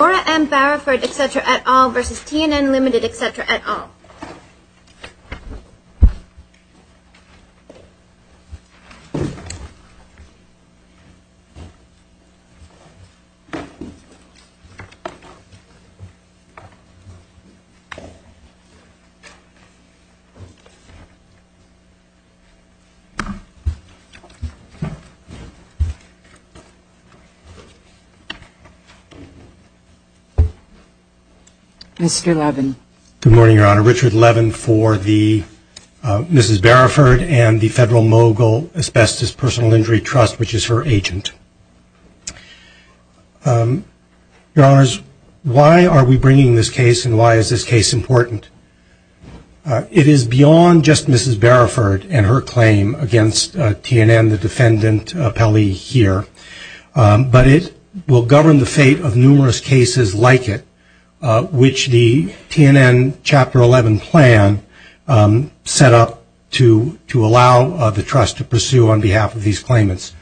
Laura M. Barraford, etc. et al. v. T&N Limited, etc. et al. Mr. Levin. Good morning, Your Honor. Richard Levin for the Mrs. Barraford and the Federal Mogul Asbestos Personal Injury Trust, which is her agent. Your Honors, why are we bringing this case and why is this case important? It is beyond just Mrs. Barraford and her claim against T&N, the defendant, Pelley here, but it will govern the fate of numerous cases like it, which the T&N Chapter 11 plan set up to allow the trust to pursue on behalf of these claimants.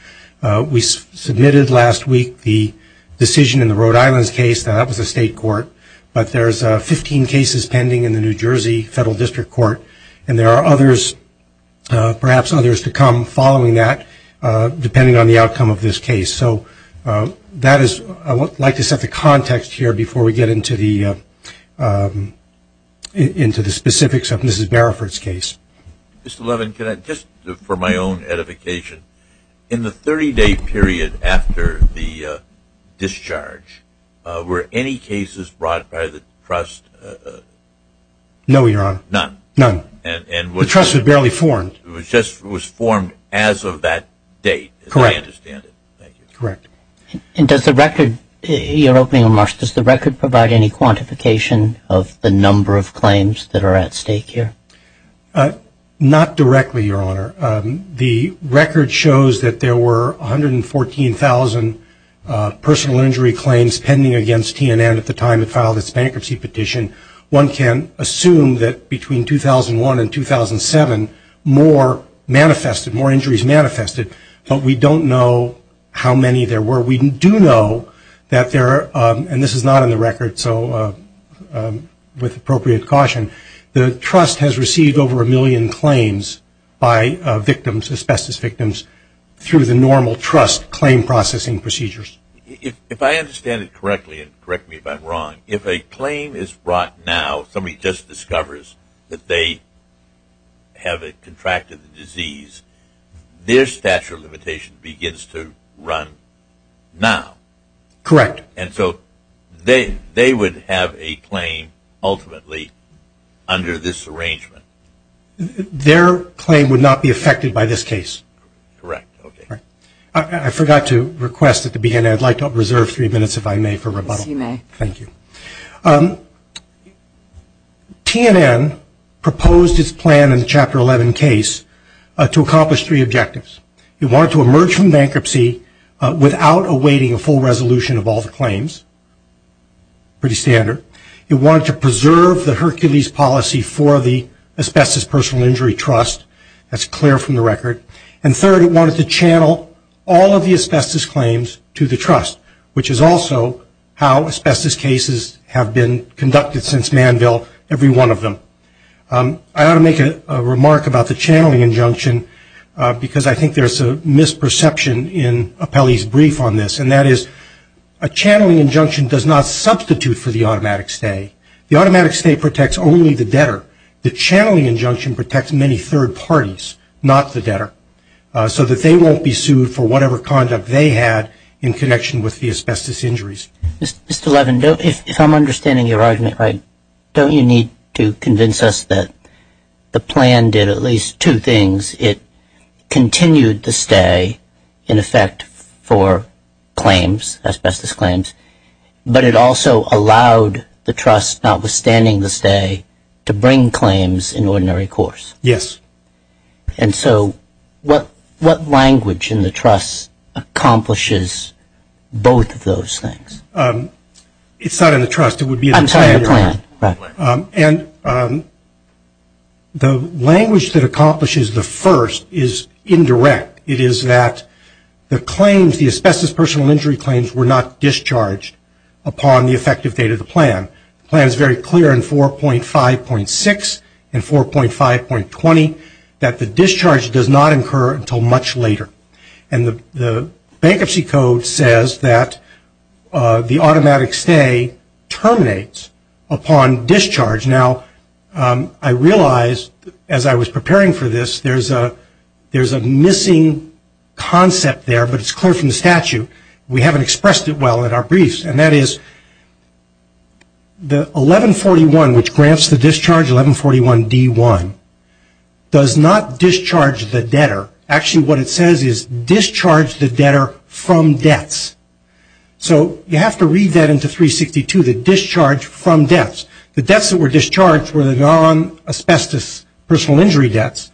We submitted last week the decision in the Rhode Island case that that was a state court, but there's 15 cases pending in the New Jersey Federal District Court, and there are others, perhaps others to come following that, depending on the outcome of this case. So that is, I would like to set the context here before we get into the specifics of Mrs. Barraford's case. Mr. Levin, just for my own edification, in the 30-day period after the discharge, were any cases brought by the trust? No, Your Honor, none. The trust had barely formed. And does the record, your opening remarks, does the record provide any quantification of the number of claims that are at stake here? Not directly, Your Honor. The record shows that there were 114,000 personal injury claims pending against T&N at the time it filed its bankruptcy petition. One can assume that between 2001 and 2007, more manifested, more injuries manifested, but we don't know how many there were. We do know that there are, and this is not in the record, so with appropriate caution, the trust has received over a million claims by victims, asbestos victims, through the normal trust claim processing procedures. If I understand it correctly, and correct me if I'm wrong, if a claim is brought now, if somebody just discovers that they have contracted the disease, their statute of limitations begins to run now. Correct. And so they would have a claim ultimately under this arrangement. Their claim would not be affected by this case. Correct. I forgot to request at the beginning, I'd like to reserve three minutes, if I may, for rebuttal. Thank you. T&N proposed its plan in the Chapter 11 case to accomplish three objectives. It wanted to emerge from bankruptcy without awaiting a full resolution of all the claims. Pretty standard. It wanted to preserve the Hercules policy for the Asbestos Personal Injury Trust. That's clear from the record. And third, it wanted to channel all of the asbestos claims to the trust, which is also how asbestos cases have been conducted since Manville, every one of them. I ought to make a remark about the channeling injunction, because I think there's a misperception in Apelli's brief on this, and that is a channeling injunction does not substitute for the automatic stay. The automatic stay protects only the debtor. The channeling injunction protects many third parties, not the debtor, so that they won't be sued for whatever conduct they had in connection with the asbestos injuries. Mr. Levin, if I'm understanding your argument right, don't you need to convince us that the plan did at least two things? It continued to stay, in effect, for claims, asbestos claims, but it also allowed the trust, notwithstanding the stay, to bring claims in ordinary course. Yes. And so what language in the trust accomplishes both of those things? It's not in the trust. I'm talking about the plan. The language that accomplishes the first is indirect. It is that the claims, the asbestos personal injury claims, were not discharged upon the effective date of the plan. The plan is very clear in 4.5.6 and 4.5.20 that the discharge does not incur until much later. And the bankruptcy code says that the automatic stay terminates upon discharge. Now, I realize, as I was preparing for this, there's a missing concept there, but it's clear from the statute. We haven't expressed it well in our briefs, and that is the 1141, which grants the discharge, 1141D1, does not discharge the debtor. Actually, what it says is discharge the debtor from debts. So you have to read that into 362, the discharge from debts. The debts that were discharged were the non-asbestos personal injury debts.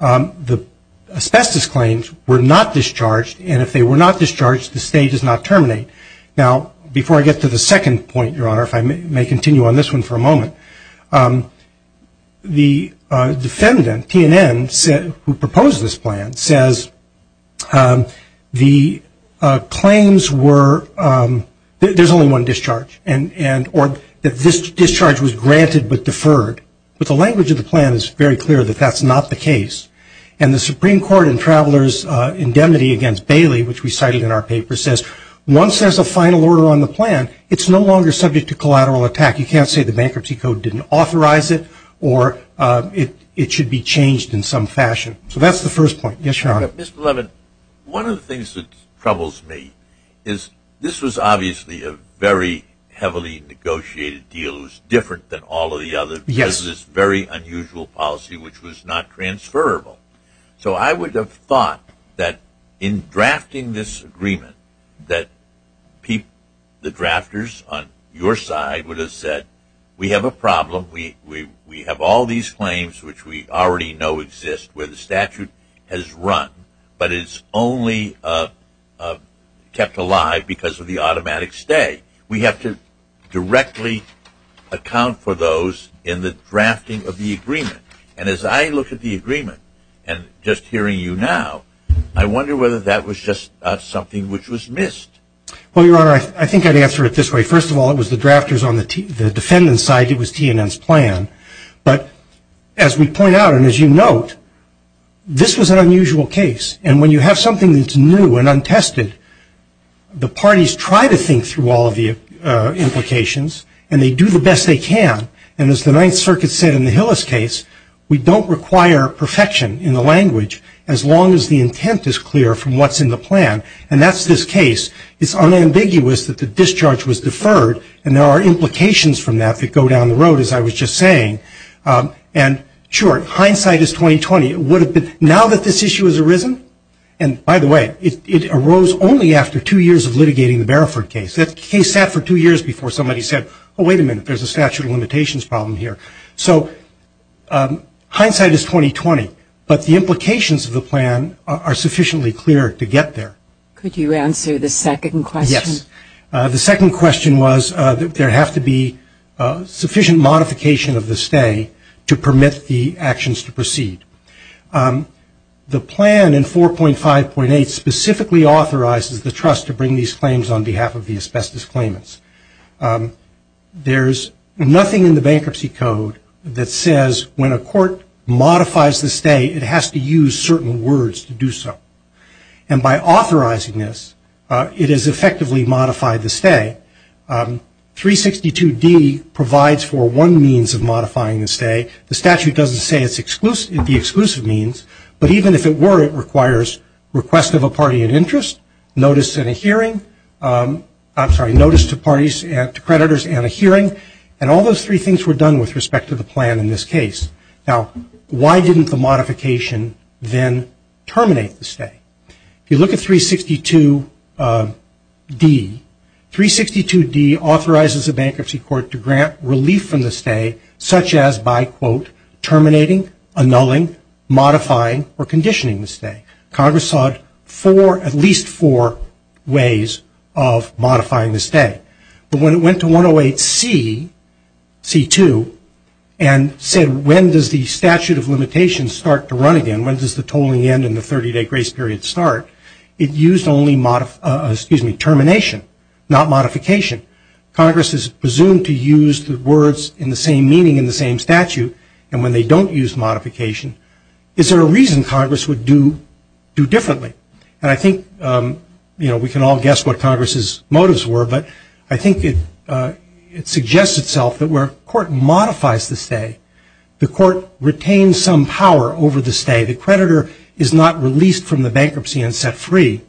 The asbestos claims were not discharged, and if they were not discharged, the stay does not terminate. Now, before I get to the second point, Your Honor, if I may continue on this one for a moment, the defendant, TNN, who proposed this plan, says the claims were, there's only one discharge, or that this discharge was granted but deferred. But the language of the plan is very clear that that's not the case. And the Supreme Court in Travelers' Indemnity against Bailey, which we cited in our paper, says once there's a final order on the plan, it's no longer subject to collateral attack. You can't say the bankruptcy code didn't authorize it, or it should be changed in some fashion. So that's the first point. Yes, Your Honor. Mr. Levin, one of the things that troubles me is this was obviously a very heavily negotiated deal. It was different than all of the other because of this very unusual policy, which was not transferable. So I would have thought that in drafting this agreement, that the drafters on your side would have said, we have a problem. We have all these claims, which we already know exist, where the statute has run, but it's only kept alive because of the automatic stay. We have to directly account for those in the drafting of the agreement. And as I look at the agreement, and just hearing you now, I wonder whether that was just something which was missed. Well, Your Honor, I think I'd answer it this way. First of all, it was the drafters on the defendant's side. It was TNN's plan. But as we point out, and as you note, this was an unusual case. And when you have something that's new and untested, the parties try to think through all of the implications, and they do the best they can. And as the Ninth Circuit said in the Hillis case, we don't require perfection in the language as long as the intent is clear from what's in the plan. And that's this case. It's unambiguous that the discharge was deferred, and there are implications from that that go down the road, as I was just saying. And, sure, hindsight is 20-20. Now that this issue has arisen, and by the way, it arose only after two years of litigating the Bareford case. That case sat for two years before somebody said, oh, wait a minute, there's a statute of limitations problem here. So hindsight is 20-20, but the implications of the plan are sufficiently clear to get there. Could you answer the second question? Yes. The second question was that there have to be sufficient modification of the stay to permit the actions to proceed. The plan in 4.5.8 specifically authorizes the trust to bring these claims on behalf of the asbestos claimants. There's nothing in the bankruptcy code that says when a court modifies the stay, it has to use certain words to do so. And by authorizing this, it has effectively modified the stay. 362D provides for one means of modifying the stay. The statute doesn't say it's the exclusive means, but even if it were, it requires request of a party in interest, notice in a hearing, I'm sorry, notice to parties, to creditors and a hearing, and all those three things were done with respect to the plan in this case. Now, why didn't the modification then terminate the stay? If you look at 362D, 362D authorizes a bankruptcy court to grant relief from the stay such as by, quote, limiting, annulling, modifying, or conditioning the stay. Congress sought four, at least four ways of modifying the stay. But when it went to 108C, C2, and said when does the statute of limitations start to run again, when does the tolling end and the 30-day grace period start, it used only termination, not modification. Congress is presumed to use the words in the same meaning in the same statute, and when they don't use modification, is there a reason Congress would do differently? And I think, you know, we can all guess what Congress's motives were, but I think it suggests itself that where a court modifies the stay, the court retains some power over the stay. The creditor is not released from the bankruptcy and set free,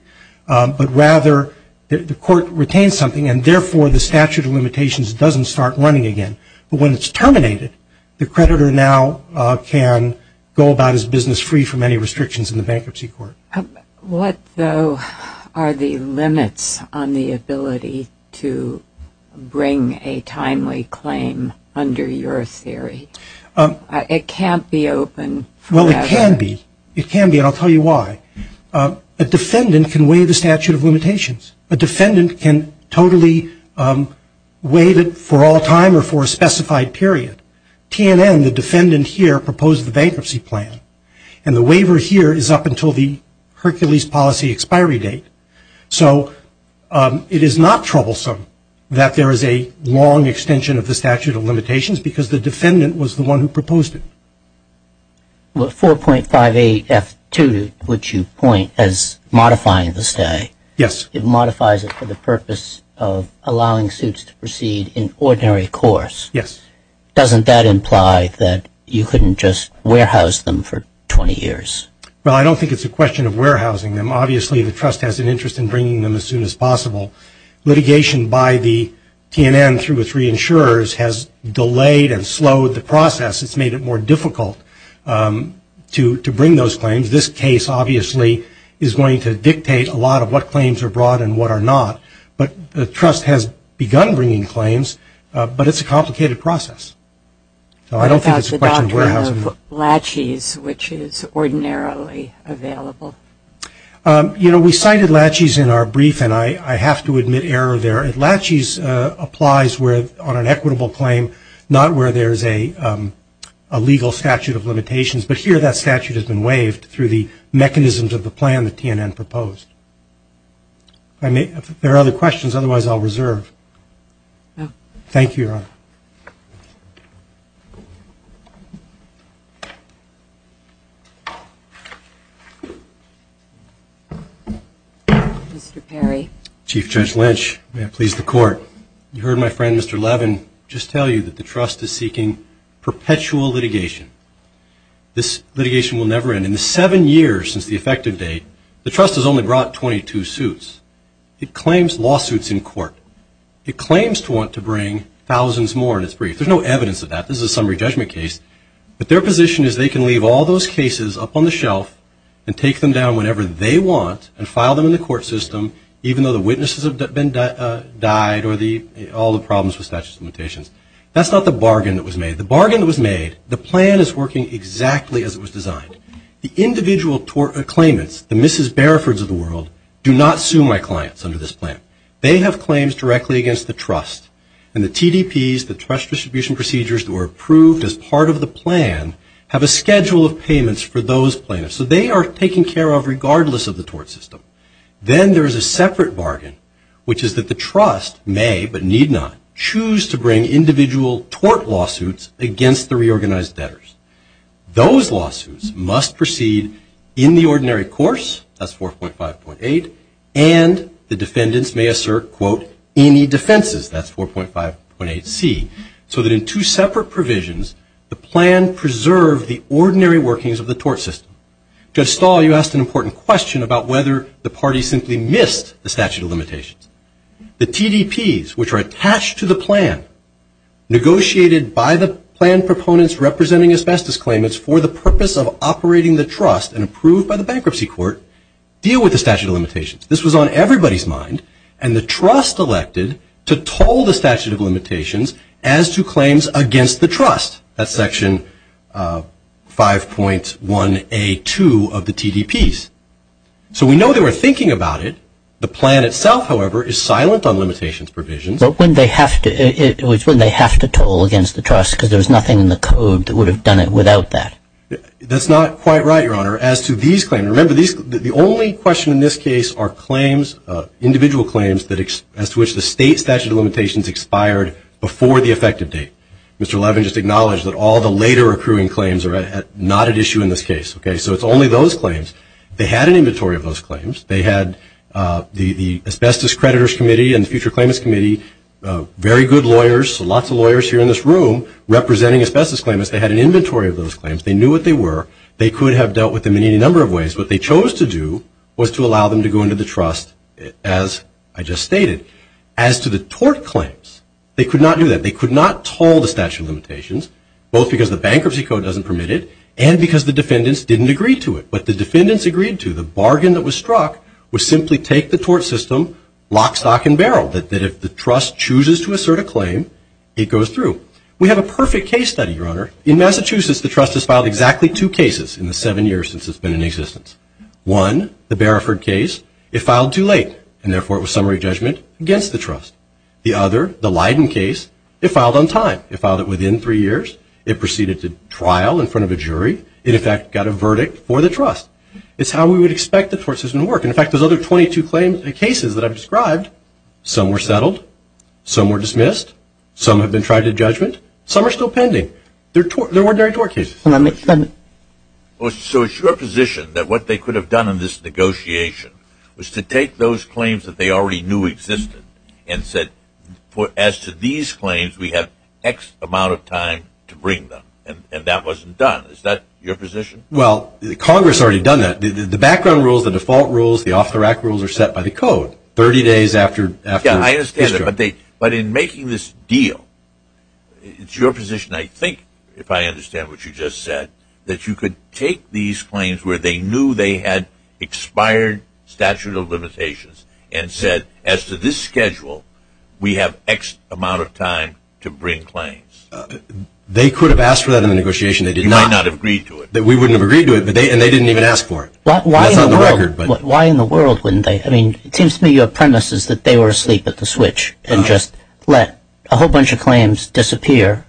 but rather the court retains something, and therefore the statute of limitations doesn't start running again. But when it's terminated, the creditor now can go about his business free from any restrictions in the bankruptcy court. What, though, are the limits on the ability to bring a timely claim under your theory? It can't be open forever. Well, it can be. It can be, and I'll tell you why. A defendant can waive the statute of limitations. A defendant can totally waive it for all time or for a specified period. TNN, the defendant here, proposed the bankruptcy plan, and the waiver here is up until the Hercules policy expiry date. So it is not troublesome that there is a long extension of the statute of limitations because the defendant was the one who proposed it. Well, 4.58F2, which you point as modifying the stay. Yes. It modifies it for the purpose of allowing suits to proceed in ordinary course. Yes. Doesn't that imply that you couldn't just warehouse them for 20 years? Well, I don't think it's a question of warehousing them. Obviously, the trust has an interest in bringing them as soon as possible. Litigation by the TNN through its reinsurers has delayed and slowed the process. It's made it more difficult to bring those claims. This case, obviously, is going to dictate a lot of what claims are brought and what are not. But the trust has begun bringing claims, but it's a complicated process. So I don't think it's a question of warehousing them. What about the doctrine of laches, which is ordinarily available? You know, we cited laches in our brief, and I have to admit error there. Laches applies on an equitable claim, not where there is a legal statute of limitations. But here that statute has been waived through the mechanisms of the plan that TNN proposed. If there are other questions, otherwise I'll reserve. Thank you, Your Honor. Mr. Perry. Chief Judge Lynch, may it please the Court. You heard my friend, Mr. Levin, just tell you that the trust is seeking perpetual litigation. This litigation will never end. In the seven years since the effective date, the trust has only brought 22 suits. It claims lawsuits in court. It claims to want to bring thousands more in its brief. There's no evidence of that. This is a summary judgment case. But their position is they can leave all those cases up on the shelf and take them down whenever they want and file them in the court system, even though the witnesses have died or all the problems with statute of limitations. That's not the bargain that was made. The bargain that was made, the plan is working exactly as it was designed. The individual claimants, the Mrs. Barifords of the world, do not sue my clients under this plan. They have claims directly against the trust. And the TDPs, the trust distribution procedures that were approved as part of the plan, have a schedule of payments for those plaintiffs. So they are taken care of regardless of the tort system. Then there is a separate bargain, which is that the trust may, but need not, choose to bring individual tort lawsuits against the reorganized debtors. Those lawsuits must proceed in the ordinary course, that's 4.5.8, and the defendants may assert, quote, any defenses, that's 4.5.8c, so that in two separate provisions the plan preserved the ordinary workings of the tort system. Judge Stahl, you asked an important question about whether the party simply missed the statute of limitations. The TDPs, which are attached to the plan, negotiated by the plan proponents representing asbestos claimants for the purpose of operating the trust and approved by the bankruptcy court, deal with the statute of limitations. This was on everybody's mind. And the trust elected to toll the statute of limitations as to claims against the trust. That's Section 5.1A2 of the TDPs. So we know they were thinking about it. The plan itself, however, is silent on limitations provisions. But when they have to toll against the trust, because there's nothing in the code that would have done it without that. That's not quite right, Your Honor, as to these claims. And remember, the only question in this case are claims, individual claims, as to which the state statute of limitations expired before the effective date. Mr. Levin just acknowledged that all the later accruing claims are not at issue in this case. So it's only those claims. They had an inventory of those claims. They had the Asbestos Creditors Committee and the Future Claimants Committee, very good lawyers, lots of lawyers here in this room representing asbestos claimants. They had an inventory of those claims. They knew what they were. They could have dealt with them in any number of ways. What they chose to do was to allow them to go into the trust, as I just stated. As to the tort claims, they could not do that. They could not toll the statute of limitations, both because the bankruptcy code doesn't permit it and because the defendants didn't agree to it. What the defendants agreed to, the bargain that was struck, was simply take the tort system lock, stock, and barrel, that if the trust chooses to assert a claim, it goes through. We have a perfect case study, Your Honor. In Massachusetts, the trust has filed exactly two cases in the seven years since it's been in existence. One, the Bareford case, it filed too late, and therefore it was summary judgment against the trust. The other, the Leiden case, it filed on time. It filed it within three years. It proceeded to trial in front of a jury. It, in fact, got a verdict for the trust. It's how we would expect the tort system to work. In fact, those other 22 claims and cases that I've described, some were settled, some were dismissed, some have been tried to judgment, some are still pending. They're ordinary tort cases. So it's your position that what they could have done in this negotiation was to take those claims that they already knew existed and said, as to these claims, we have X amount of time to bring them. And that wasn't done. Is that your position? Well, Congress already done that. The background rules, the default rules, the off-the-rack rules are set by the code. 30 days after history. But in making this deal, it's your position, I think, if I understand what you just said, that you could take these claims where they knew they had expired statute of limitations and said, as to this schedule, we have X amount of time to bring claims. They could have asked for that in the negotiation. They did not. You might not have agreed to it. We wouldn't have agreed to it, and they didn't even ask for it. That's on the record. Why in the world wouldn't they? It seems to me your premise is that they were asleep at the switch and just let a whole bunch of claims disappear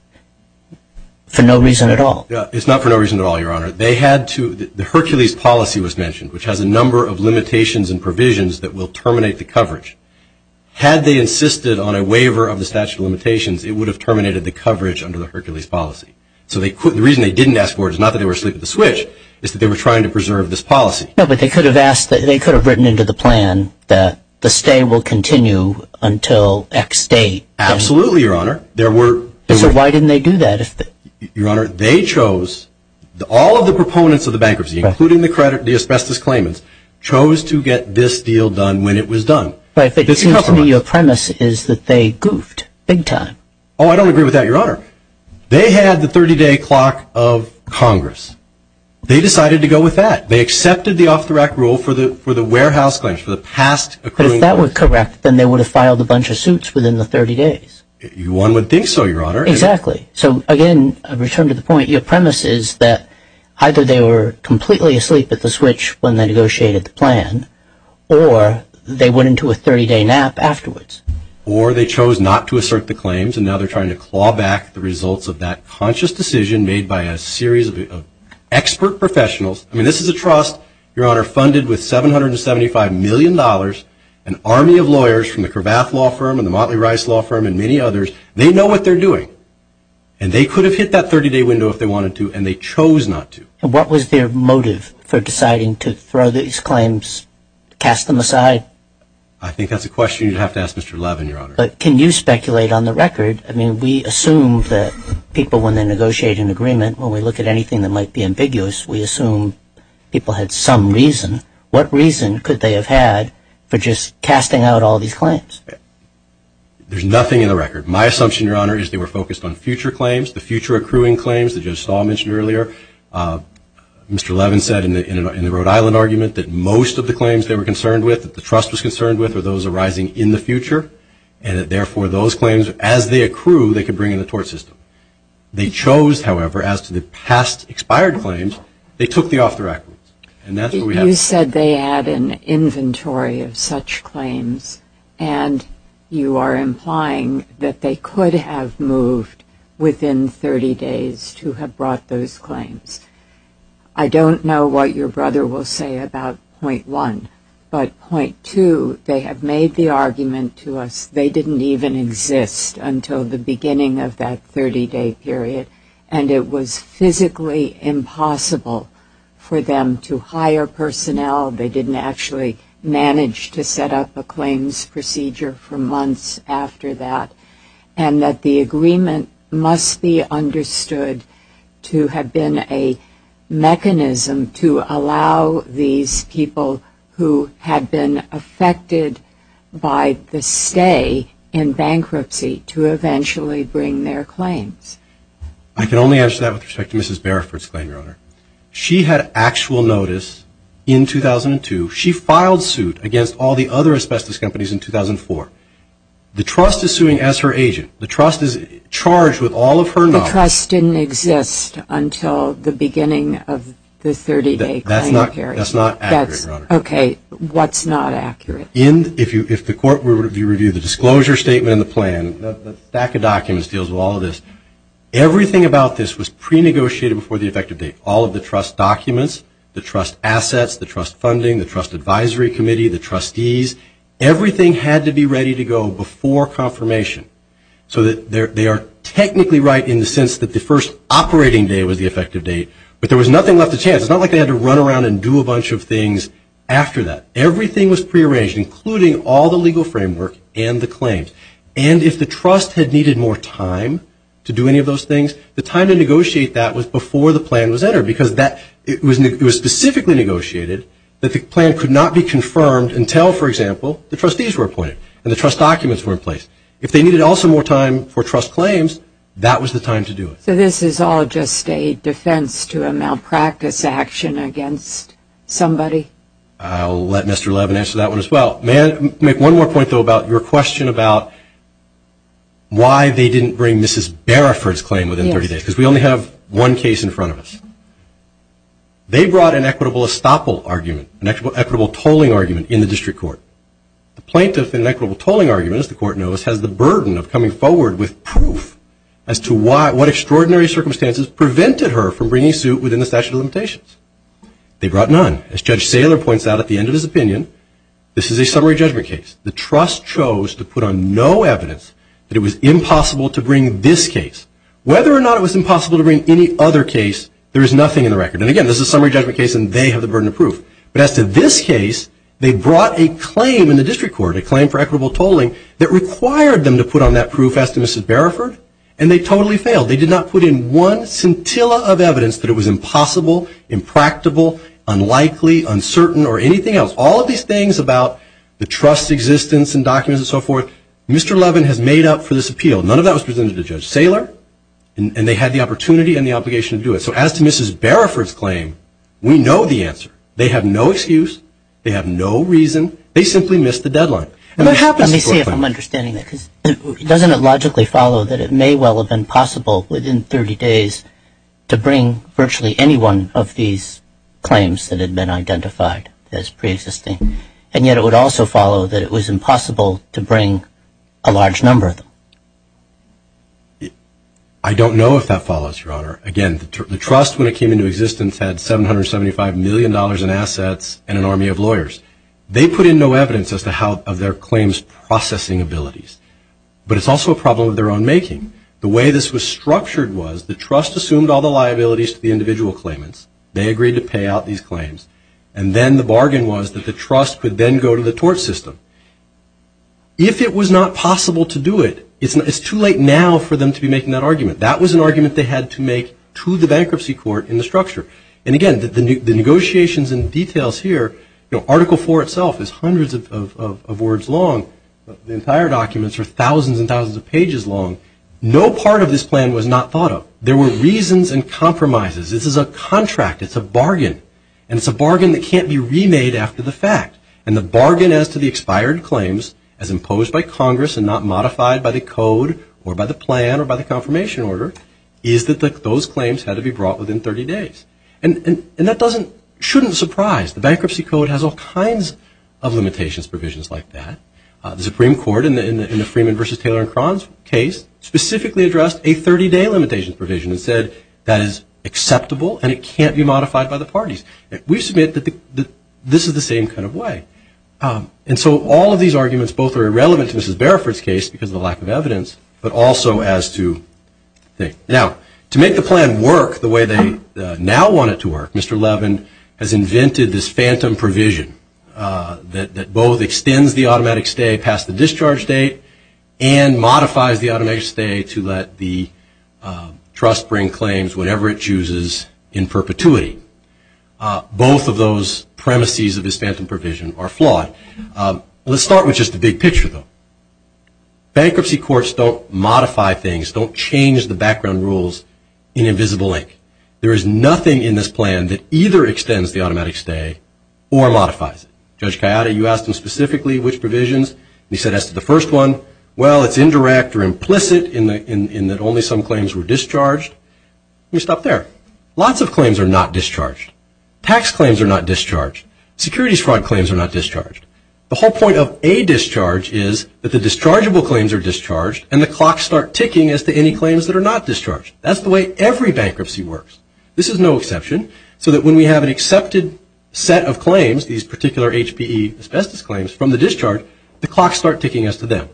for no reason at all. It's not for no reason at all, Your Honor. The Hercules policy was mentioned, which has a number of limitations and provisions that will terminate the coverage. Had they insisted on a waiver of the statute of limitations, it would have terminated the coverage under the Hercules policy. So the reason they didn't ask for it is not that they were asleep at the switch, it's that they were trying to preserve this policy. No, but they could have written into the plan that the stay will continue until X date. Absolutely, Your Honor. So why didn't they do that? Your Honor, they chose, all of the proponents of the bankruptcy, including the asbestos claimants, chose to get this deal done when it was done. But it seems to me your premise is that they goofed big time. Oh, I don't agree with that, Your Honor. They had the 30-day clock of Congress. They decided to go with that. They accepted the off-the-rack rule for the warehouse claims, for the past accruing. But if that were correct, then they would have filed a bunch of suits within the 30 days. One would think so, Your Honor. Exactly. So, again, I return to the point. Your premise is that either they were completely asleep at the switch when they negotiated the plan, or they went into a 30-day nap afterwards. Or they chose not to assert the claims, and now they're trying to claw back the results of that conscious decision made by a series of expert professionals. I mean, this is a trust, Your Honor, funded with $775 million, an army of lawyers from the Cravath Law Firm and the Motley Rice Law Firm and many others. They know what they're doing. And they could have hit that 30-day window if they wanted to, and they chose not to. And what was their motive for deciding to throw these claims, cast them aside? I think that's a question you'd have to ask Mr. Levin, Your Honor. But can you speculate on the record? I mean, we assume that people, when they negotiate an agreement, when we look at anything that might be ambiguous, we assume people had some reason. What reason could they have had for just casting out all these claims? There's nothing in the record. My assumption, Your Honor, is they were focused on future claims, the future accruing claims that Judge Stahl mentioned earlier. Mr. Levin said in the Rhode Island argument that most of the claims they were concerned with, that the trust was concerned with, are those arising in the future, and that, therefore, those claims, as they accrue, they could bring in the tort system. They chose, however, as to the past expired claims, they took the off the record. And that's what we have. You said they had an inventory of such claims, and you are implying that they could have moved within 30 days to have brought those claims. I don't know what your brother will say about point one, but point two, they have made the argument to us they didn't even exist until the beginning of that 30-day period, and it was physically impossible for them to hire personnel. They didn't actually manage to set up a claims procedure for months after that, and that the agreement must be understood to have been a mechanism to allow these people who had been affected by the stay in bankruptcy to eventually bring their claims. I can only answer that with respect to Mrs. Barefoot's claim, Your Honor. She had actual notice in 2002. She filed suit against all the other asbestos companies in 2004. The trust is suing as her agent. The trust is charged with all of her knowledge. The trust didn't exist until the beginning of the 30-day claim period. That's not accurate, Your Honor. Okay, what's not accurate? If the court were to review the disclosure statement and the plan, the stack of documents deals with all of this, everything about this was pre-negotiated before the effective date. All of the trust documents, the trust assets, the trust funding, the trust advisory committee, the trustees, everything had to be ready to go before confirmation so that they are technically right in the sense that the first operating day was the effective date, but there was nothing left to chance. It's not like they had to run around and do a bunch of things after that. Everything was pre-arranged, including all the legal framework and the claims. And if the trust had needed more time to do any of those things, the time to negotiate that was before the plan was entered because it was specifically negotiated that the plan could not be confirmed until, for example, the trustees were appointed and the trust documents were in place. If they needed also more time for trust claims, that was the time to do it. So this is all just a defense to a malpractice action against somebody? I'll let Mr. Levin answer that one as well. May I make one more point, though, about your question about why they didn't bring Mrs. Bariford's claim within 30 days? Yes. Because we only have one case in front of us. They brought an equitable estoppel argument, an equitable tolling argument in the district court. The plaintiff in equitable tolling arguments, the court knows, has the burden of coming forward with proof as to what extraordinary circumstances prevented her from bringing suit within the statute of limitations. They brought none. As Judge Saylor points out at the end of his opinion, this is a summary judgment case. The trust chose to put on no evidence that it was impossible to bring this case. Whether or not it was impossible to bring any other case, there is nothing in the record. And, again, this is a summary judgment case and they have the burden of proof. But as to this case, they brought a claim in the district court, a claim for equitable tolling, that required them to put on that proof as to Mrs. Bariford, and they totally failed. They did not put in one scintilla of evidence that it was impossible, impractical, unlikely, uncertain, or anything else. All of these things about the trust's existence and documents and so forth, Mr. Levin has made up for this appeal. None of that was presented to Judge Saylor, and they had the opportunity and the obligation to do it. So as to Mrs. Bariford's claim, we know the answer. They have no excuse. They have no reason. They simply missed the deadline. Let me see if I'm understanding that, because doesn't it logically follow that it may well have been possible within 30 days to bring virtually any one of these claims that had been identified as preexisting, and yet it would also follow that it was impossible to bring a large number of them? I don't know if that follows, Your Honor. Again, the trust, when it came into existence, had $775 million in assets and an army of lawyers. They put in no evidence as to how their claims processing abilities, but it's also a problem of their own making. The way this was structured was the trust assumed all the liabilities to the individual claimants. They agreed to pay out these claims, and then the bargain was that the trust could then go to the tort system. If it was not possible to do it, it's too late now for them to be making that argument. That was an argument they had to make to the bankruptcy court in the structure. And again, the negotiations and details here, you know, Article 4 itself is hundreds of words long. The entire documents are thousands and thousands of pages long. No part of this plan was not thought of. There were reasons and compromises. This is a contract. It's a bargain, and it's a bargain that can't be remade after the fact. And the bargain as to the expired claims as imposed by Congress and not modified by the code or by the plan or by the confirmation order is that those claims had to be brought within 30 days. And that shouldn't surprise. The bankruptcy code has all kinds of limitations provisions like that. The Supreme Court in the Freeman v. Taylor and Cron's case specifically addressed a 30-day limitations provision and said that is acceptable and it can't be modified by the parties. We submit that this is the same kind of way. And so all of these arguments both are irrelevant to Mrs. Barefoot's case because of the lack of evidence, but also as to things. Now, to make the plan work the way they now want it to work, Mr. Levin has invented this phantom provision that both extends the automatic stay past the discharge date and modifies the automatic stay to let the trust bring claims, whatever it chooses, in perpetuity. Both of those premises of this phantom provision are flawed. Let's start with just the big picture, though. Bankruptcy courts don't modify things, don't change the background rules in a visible link. There is nothing in this plan that either extends the automatic stay or modifies it. Judge Kayada, you asked him specifically which provisions. He said as to the first one, well, it's indirect or implicit in that only some claims were discharged. You stop there. Lots of claims are not discharged. Securities fraud claims are not discharged. The whole point of a discharge is that the dischargeable claims are discharged and the clocks start ticking as to any claims that are not discharged. That's the way every bankruptcy works. This is no exception so that when we have an accepted set of claims, these particular HPE asbestos claims from the discharge, the clocks start ticking as to them.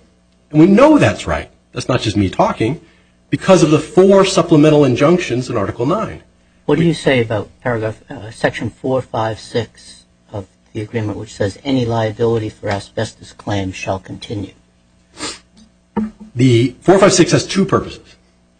And we know that's right. That's not just me talking because of the four supplemental injunctions in Article 9. What do you say about Section 456 of the agreement, which says any liability for asbestos claims shall continue? The 456 has two purposes.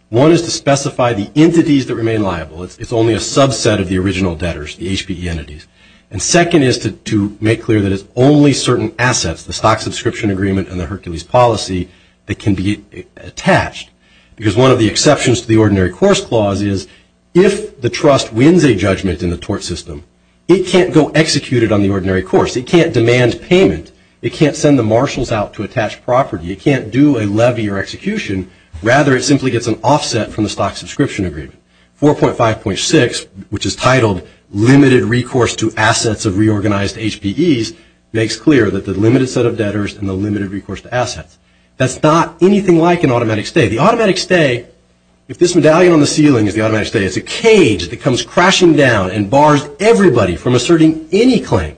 One is to specify the entities that remain liable. It's only a subset of the original debtors, the HPE entities. And second is to make clear that it's only certain assets, the stock subscription agreement and the Hercules policy, that can be attached. Because one of the exceptions to the ordinary course clause is if the trust wins a judgment in the tort system, it can't go execute it on the ordinary course. It can't demand payment. It can't send the marshals out to attach property. It can't do a levy or execution. Rather, it simply gets an offset from the stock subscription agreement. 4.5.6, which is titled Limited Recourse to Assets of Reorganized HPEs, makes clear that the limited set of debtors and the limited recourse to assets. That's not anything like an automatic stay. The automatic stay, if this medallion on the ceiling is the automatic stay, it's a cage that comes crashing down and bars everybody from asserting any claim.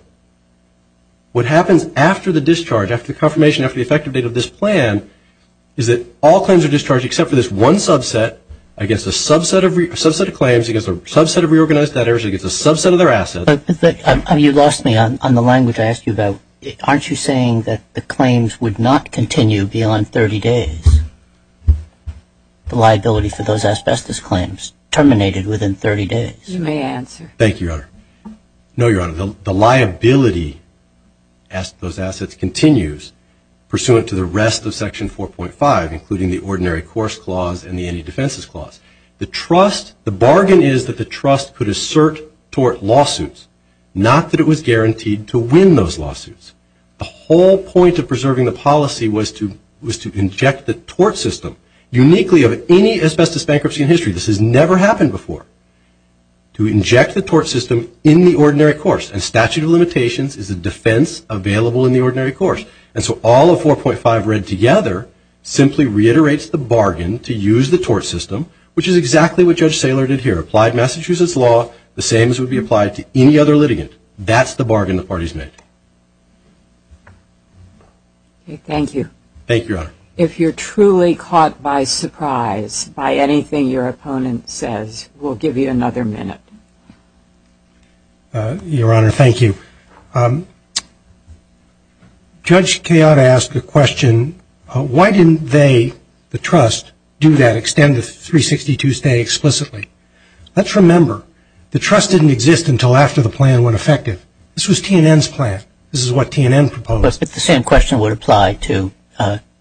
What happens after the discharge, after the confirmation, after the effective date of this plan is that all claims are discharged except for this one subset against a subset of claims, against a subset of reorganized debtors, against a subset of their assets. But you lost me on the language I asked you about. Aren't you saying that the claims would not continue beyond 30 days? The liability for those asbestos claims terminated within 30 days. You may answer. Thank you, Your Honor. No, Your Honor. The liability as to those assets continues pursuant to the rest of Section 4.5, including the Ordinary Course Clause and the Anti-Defenses Clause. The trust, the bargain is that the trust could assert tort lawsuits, not that it was guaranteed to win those lawsuits. The whole point of preserving the policy was to inject the tort system, uniquely of any asbestos bankruptcy in history, this has never happened before, to inject the tort system in the ordinary course. And statute of limitations is a defense available in the ordinary course. And so all of 4.5 read together simply reiterates the bargain to use the tort system, which is exactly what Judge Saylor did here. If you applied Massachusetts law, the same as would be applied to any other litigant. That's the bargain the parties made. Thank you. Thank you, Your Honor. If you're truly caught by surprise by anything your opponent says, we'll give you another minute. Your Honor, thank you. Judge Kayotta asked the question, why didn't they, the trust, do that, extend the 362 stay explicitly? Let's remember, the trust didn't exist until after the plan went effective. This was TNN's plan. This is what TNN proposed. But the same question would apply to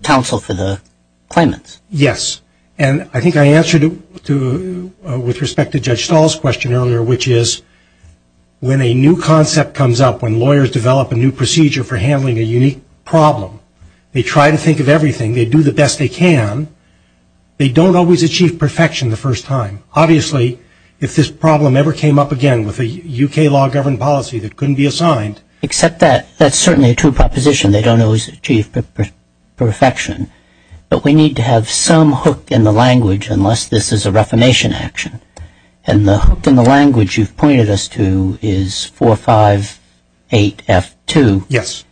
counsel for the claimants. Yes. And I think I answered it with respect to Judge Stahl's question earlier, which is when a new concept comes up, when lawyers develop a new procedure for handling a unique problem, they try to think of everything. They do the best they can. They don't always achieve perfection the first time. Obviously, if this problem ever came up again with a U.K. law-governed policy that couldn't be assigned. Except that that's certainly a true proposition. They don't always achieve perfection. But we need to have some hook in the language unless this is a reformation action. And the hook in the language you've pointed us to is 458F2. Yes.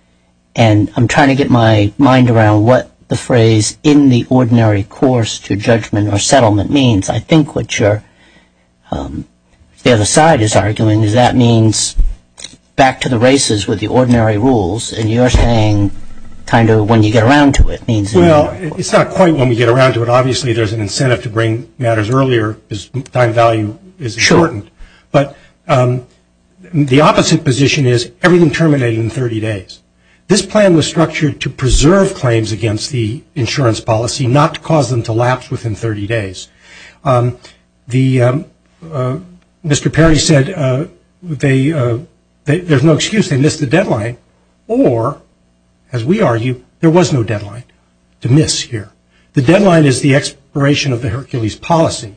And I'm trying to get my mind around what the phrase, in the ordinary course to judgment or settlement means. I think what you're, the other side is arguing is that means back to the races with the ordinary rules. And you're saying kind of when you get around to it means in the ordinary course. Well, it's not quite when we get around to it. Your time value is shortened. Sure. But the opposite position is everything terminated in 30 days. This plan was structured to preserve claims against the insurance policy, not to cause them to lapse within 30 days. Mr. Perry said there's no excuse. They missed the deadline. Or, as we argue, there was no deadline to miss here. The deadline is the expiration of the Hercules policy.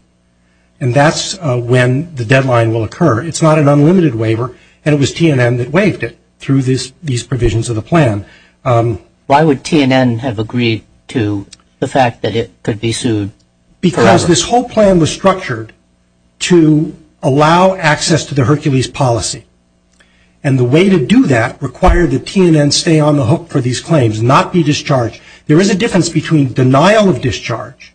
And that's when the deadline will occur. It's not an unlimited waiver. And it was TNN that waived it through these provisions of the plan. Why would TNN have agreed to the fact that it could be sued forever? Because this whole plan was structured to allow access to the Hercules policy. And the way to do that required that TNN stay on the hook for these claims, not be discharged. There is a difference between denial of discharge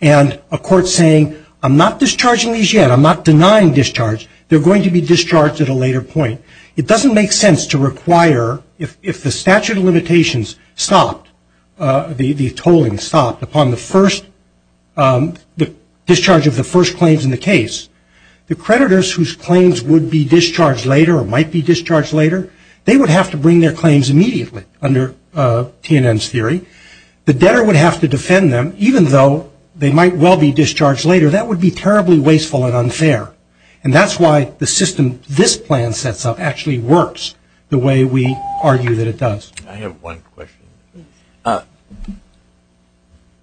and a court saying, I'm not discharging these yet, I'm not denying discharge, they're going to be discharged at a later point. It doesn't make sense to require, if the statute of limitations stopped, the tolling stopped upon the discharge of the first claims in the case, the creditors whose claims would be discharged later or might be discharged later, they would have to bring their claims immediately under TNN's theory. The debtor would have to defend them, even though they might well be discharged later. That would be terribly wasteful and unfair. And that's why the system this plan sets up actually works the way we argue that it does. I have one question.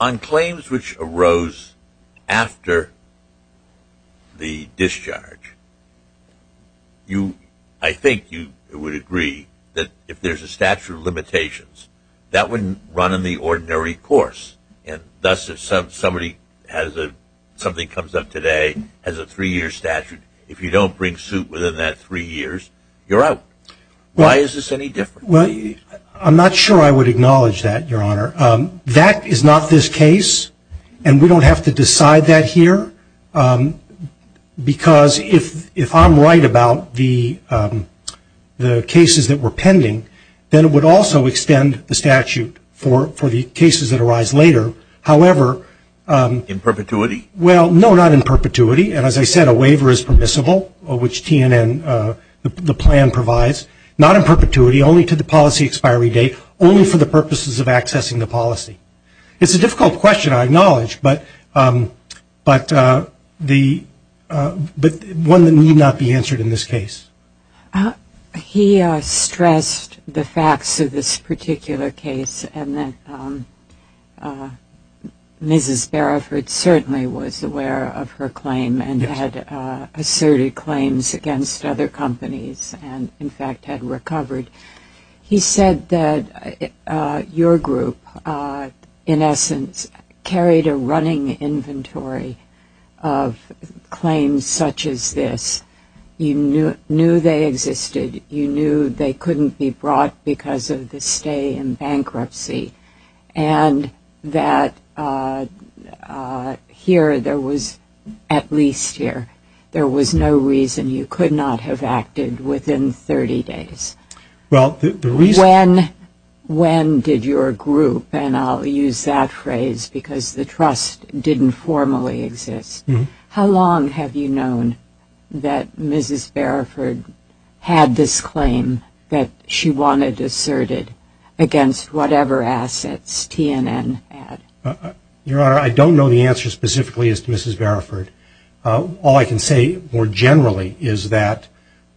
On claims which arose after the discharge, I think you would agree that if there's a statute of limitations, that wouldn't run in the ordinary course. And thus if somebody has a, something comes up today, has a three-year statute, if you don't bring suit within that three years, you're out. Why is this any different? Well, I'm not sure I would acknowledge that, Your Honor. That is not this case, and we don't have to decide that here, because if I'm right about the cases that were pending, then it would also extend the statute for the cases that arise later. However, In perpetuity? Well, no, not in perpetuity. And as I said, a waiver is permissible, which TNN, the plan provides. Not in perpetuity, only to the policy expiry date, only for the purposes of accessing the policy. It's a difficult question, I acknowledge, but one that need not be answered in this case. He stressed the facts of this particular case, and that Mrs. Baraford certainly was aware of her claim and had asserted claims against other companies. And, in fact, had recovered. He said that your group, in essence, carried a running inventory of claims such as this. You knew they existed. You knew they couldn't be brought because of the stay in bankruptcy. And that here, there was, at least here, there was no reason you could not have acted within 30 days. When did your group, and I'll use that phrase because the trust didn't formally exist, how long have you known that Mrs. Baraford had this claim that she wanted asserted against whatever assets TNN had? Your Honor, I don't know the answer specifically as to Mrs. Baraford. All I can say more generally is that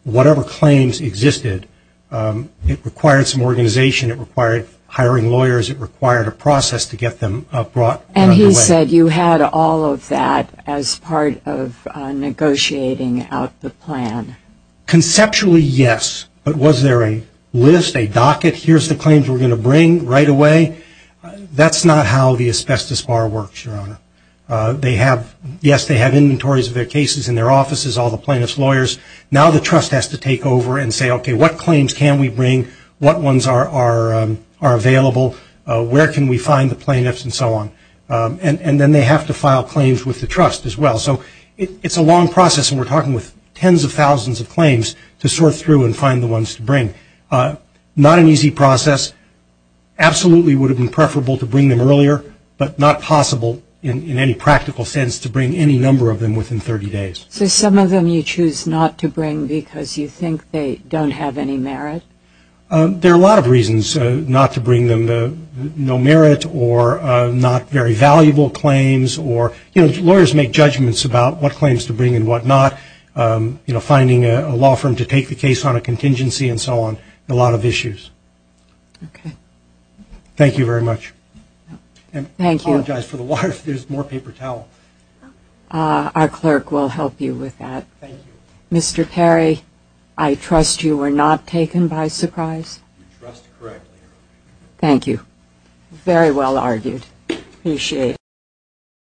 whatever claims existed, it required some organization, it required hiring lawyers, it required a process to get them brought under way. And he said you had all of that as part of negotiating out the plan. Conceptually, yes. But was there a list, a docket, here's the claims we're going to bring right away? That's not how the asbestos bar works, Your Honor. Yes, they have inventories of their cases in their offices, all the plaintiff's lawyers. Now the trust has to take over and say, okay, what claims can we bring? What ones are available? Where can we find the plaintiffs and so on? And then they have to file claims with the trust as well. So it's a long process, and we're talking with tens of thousands of claims to sort through and find the ones to bring. Not an easy process. Absolutely would have been preferable to bring them earlier, but not possible in any practical sense to bring any number of them within 30 days. So some of them you choose not to bring because you think they don't have any merit? There are a lot of reasons not to bring them. No merit or not very valuable claims or, you know, lawyers make judgments about what claims to bring and what not. You know, finding a law firm to take the case on a contingency and so on. A lot of issues. Okay. Thank you very much. Thank you. I apologize for the water. There's more paper towel. Our clerk will help you with that. Thank you. Mr. Perry, I trust you were not taken by surprise? You're correct. Thank you. Very well argued. Appreciate it.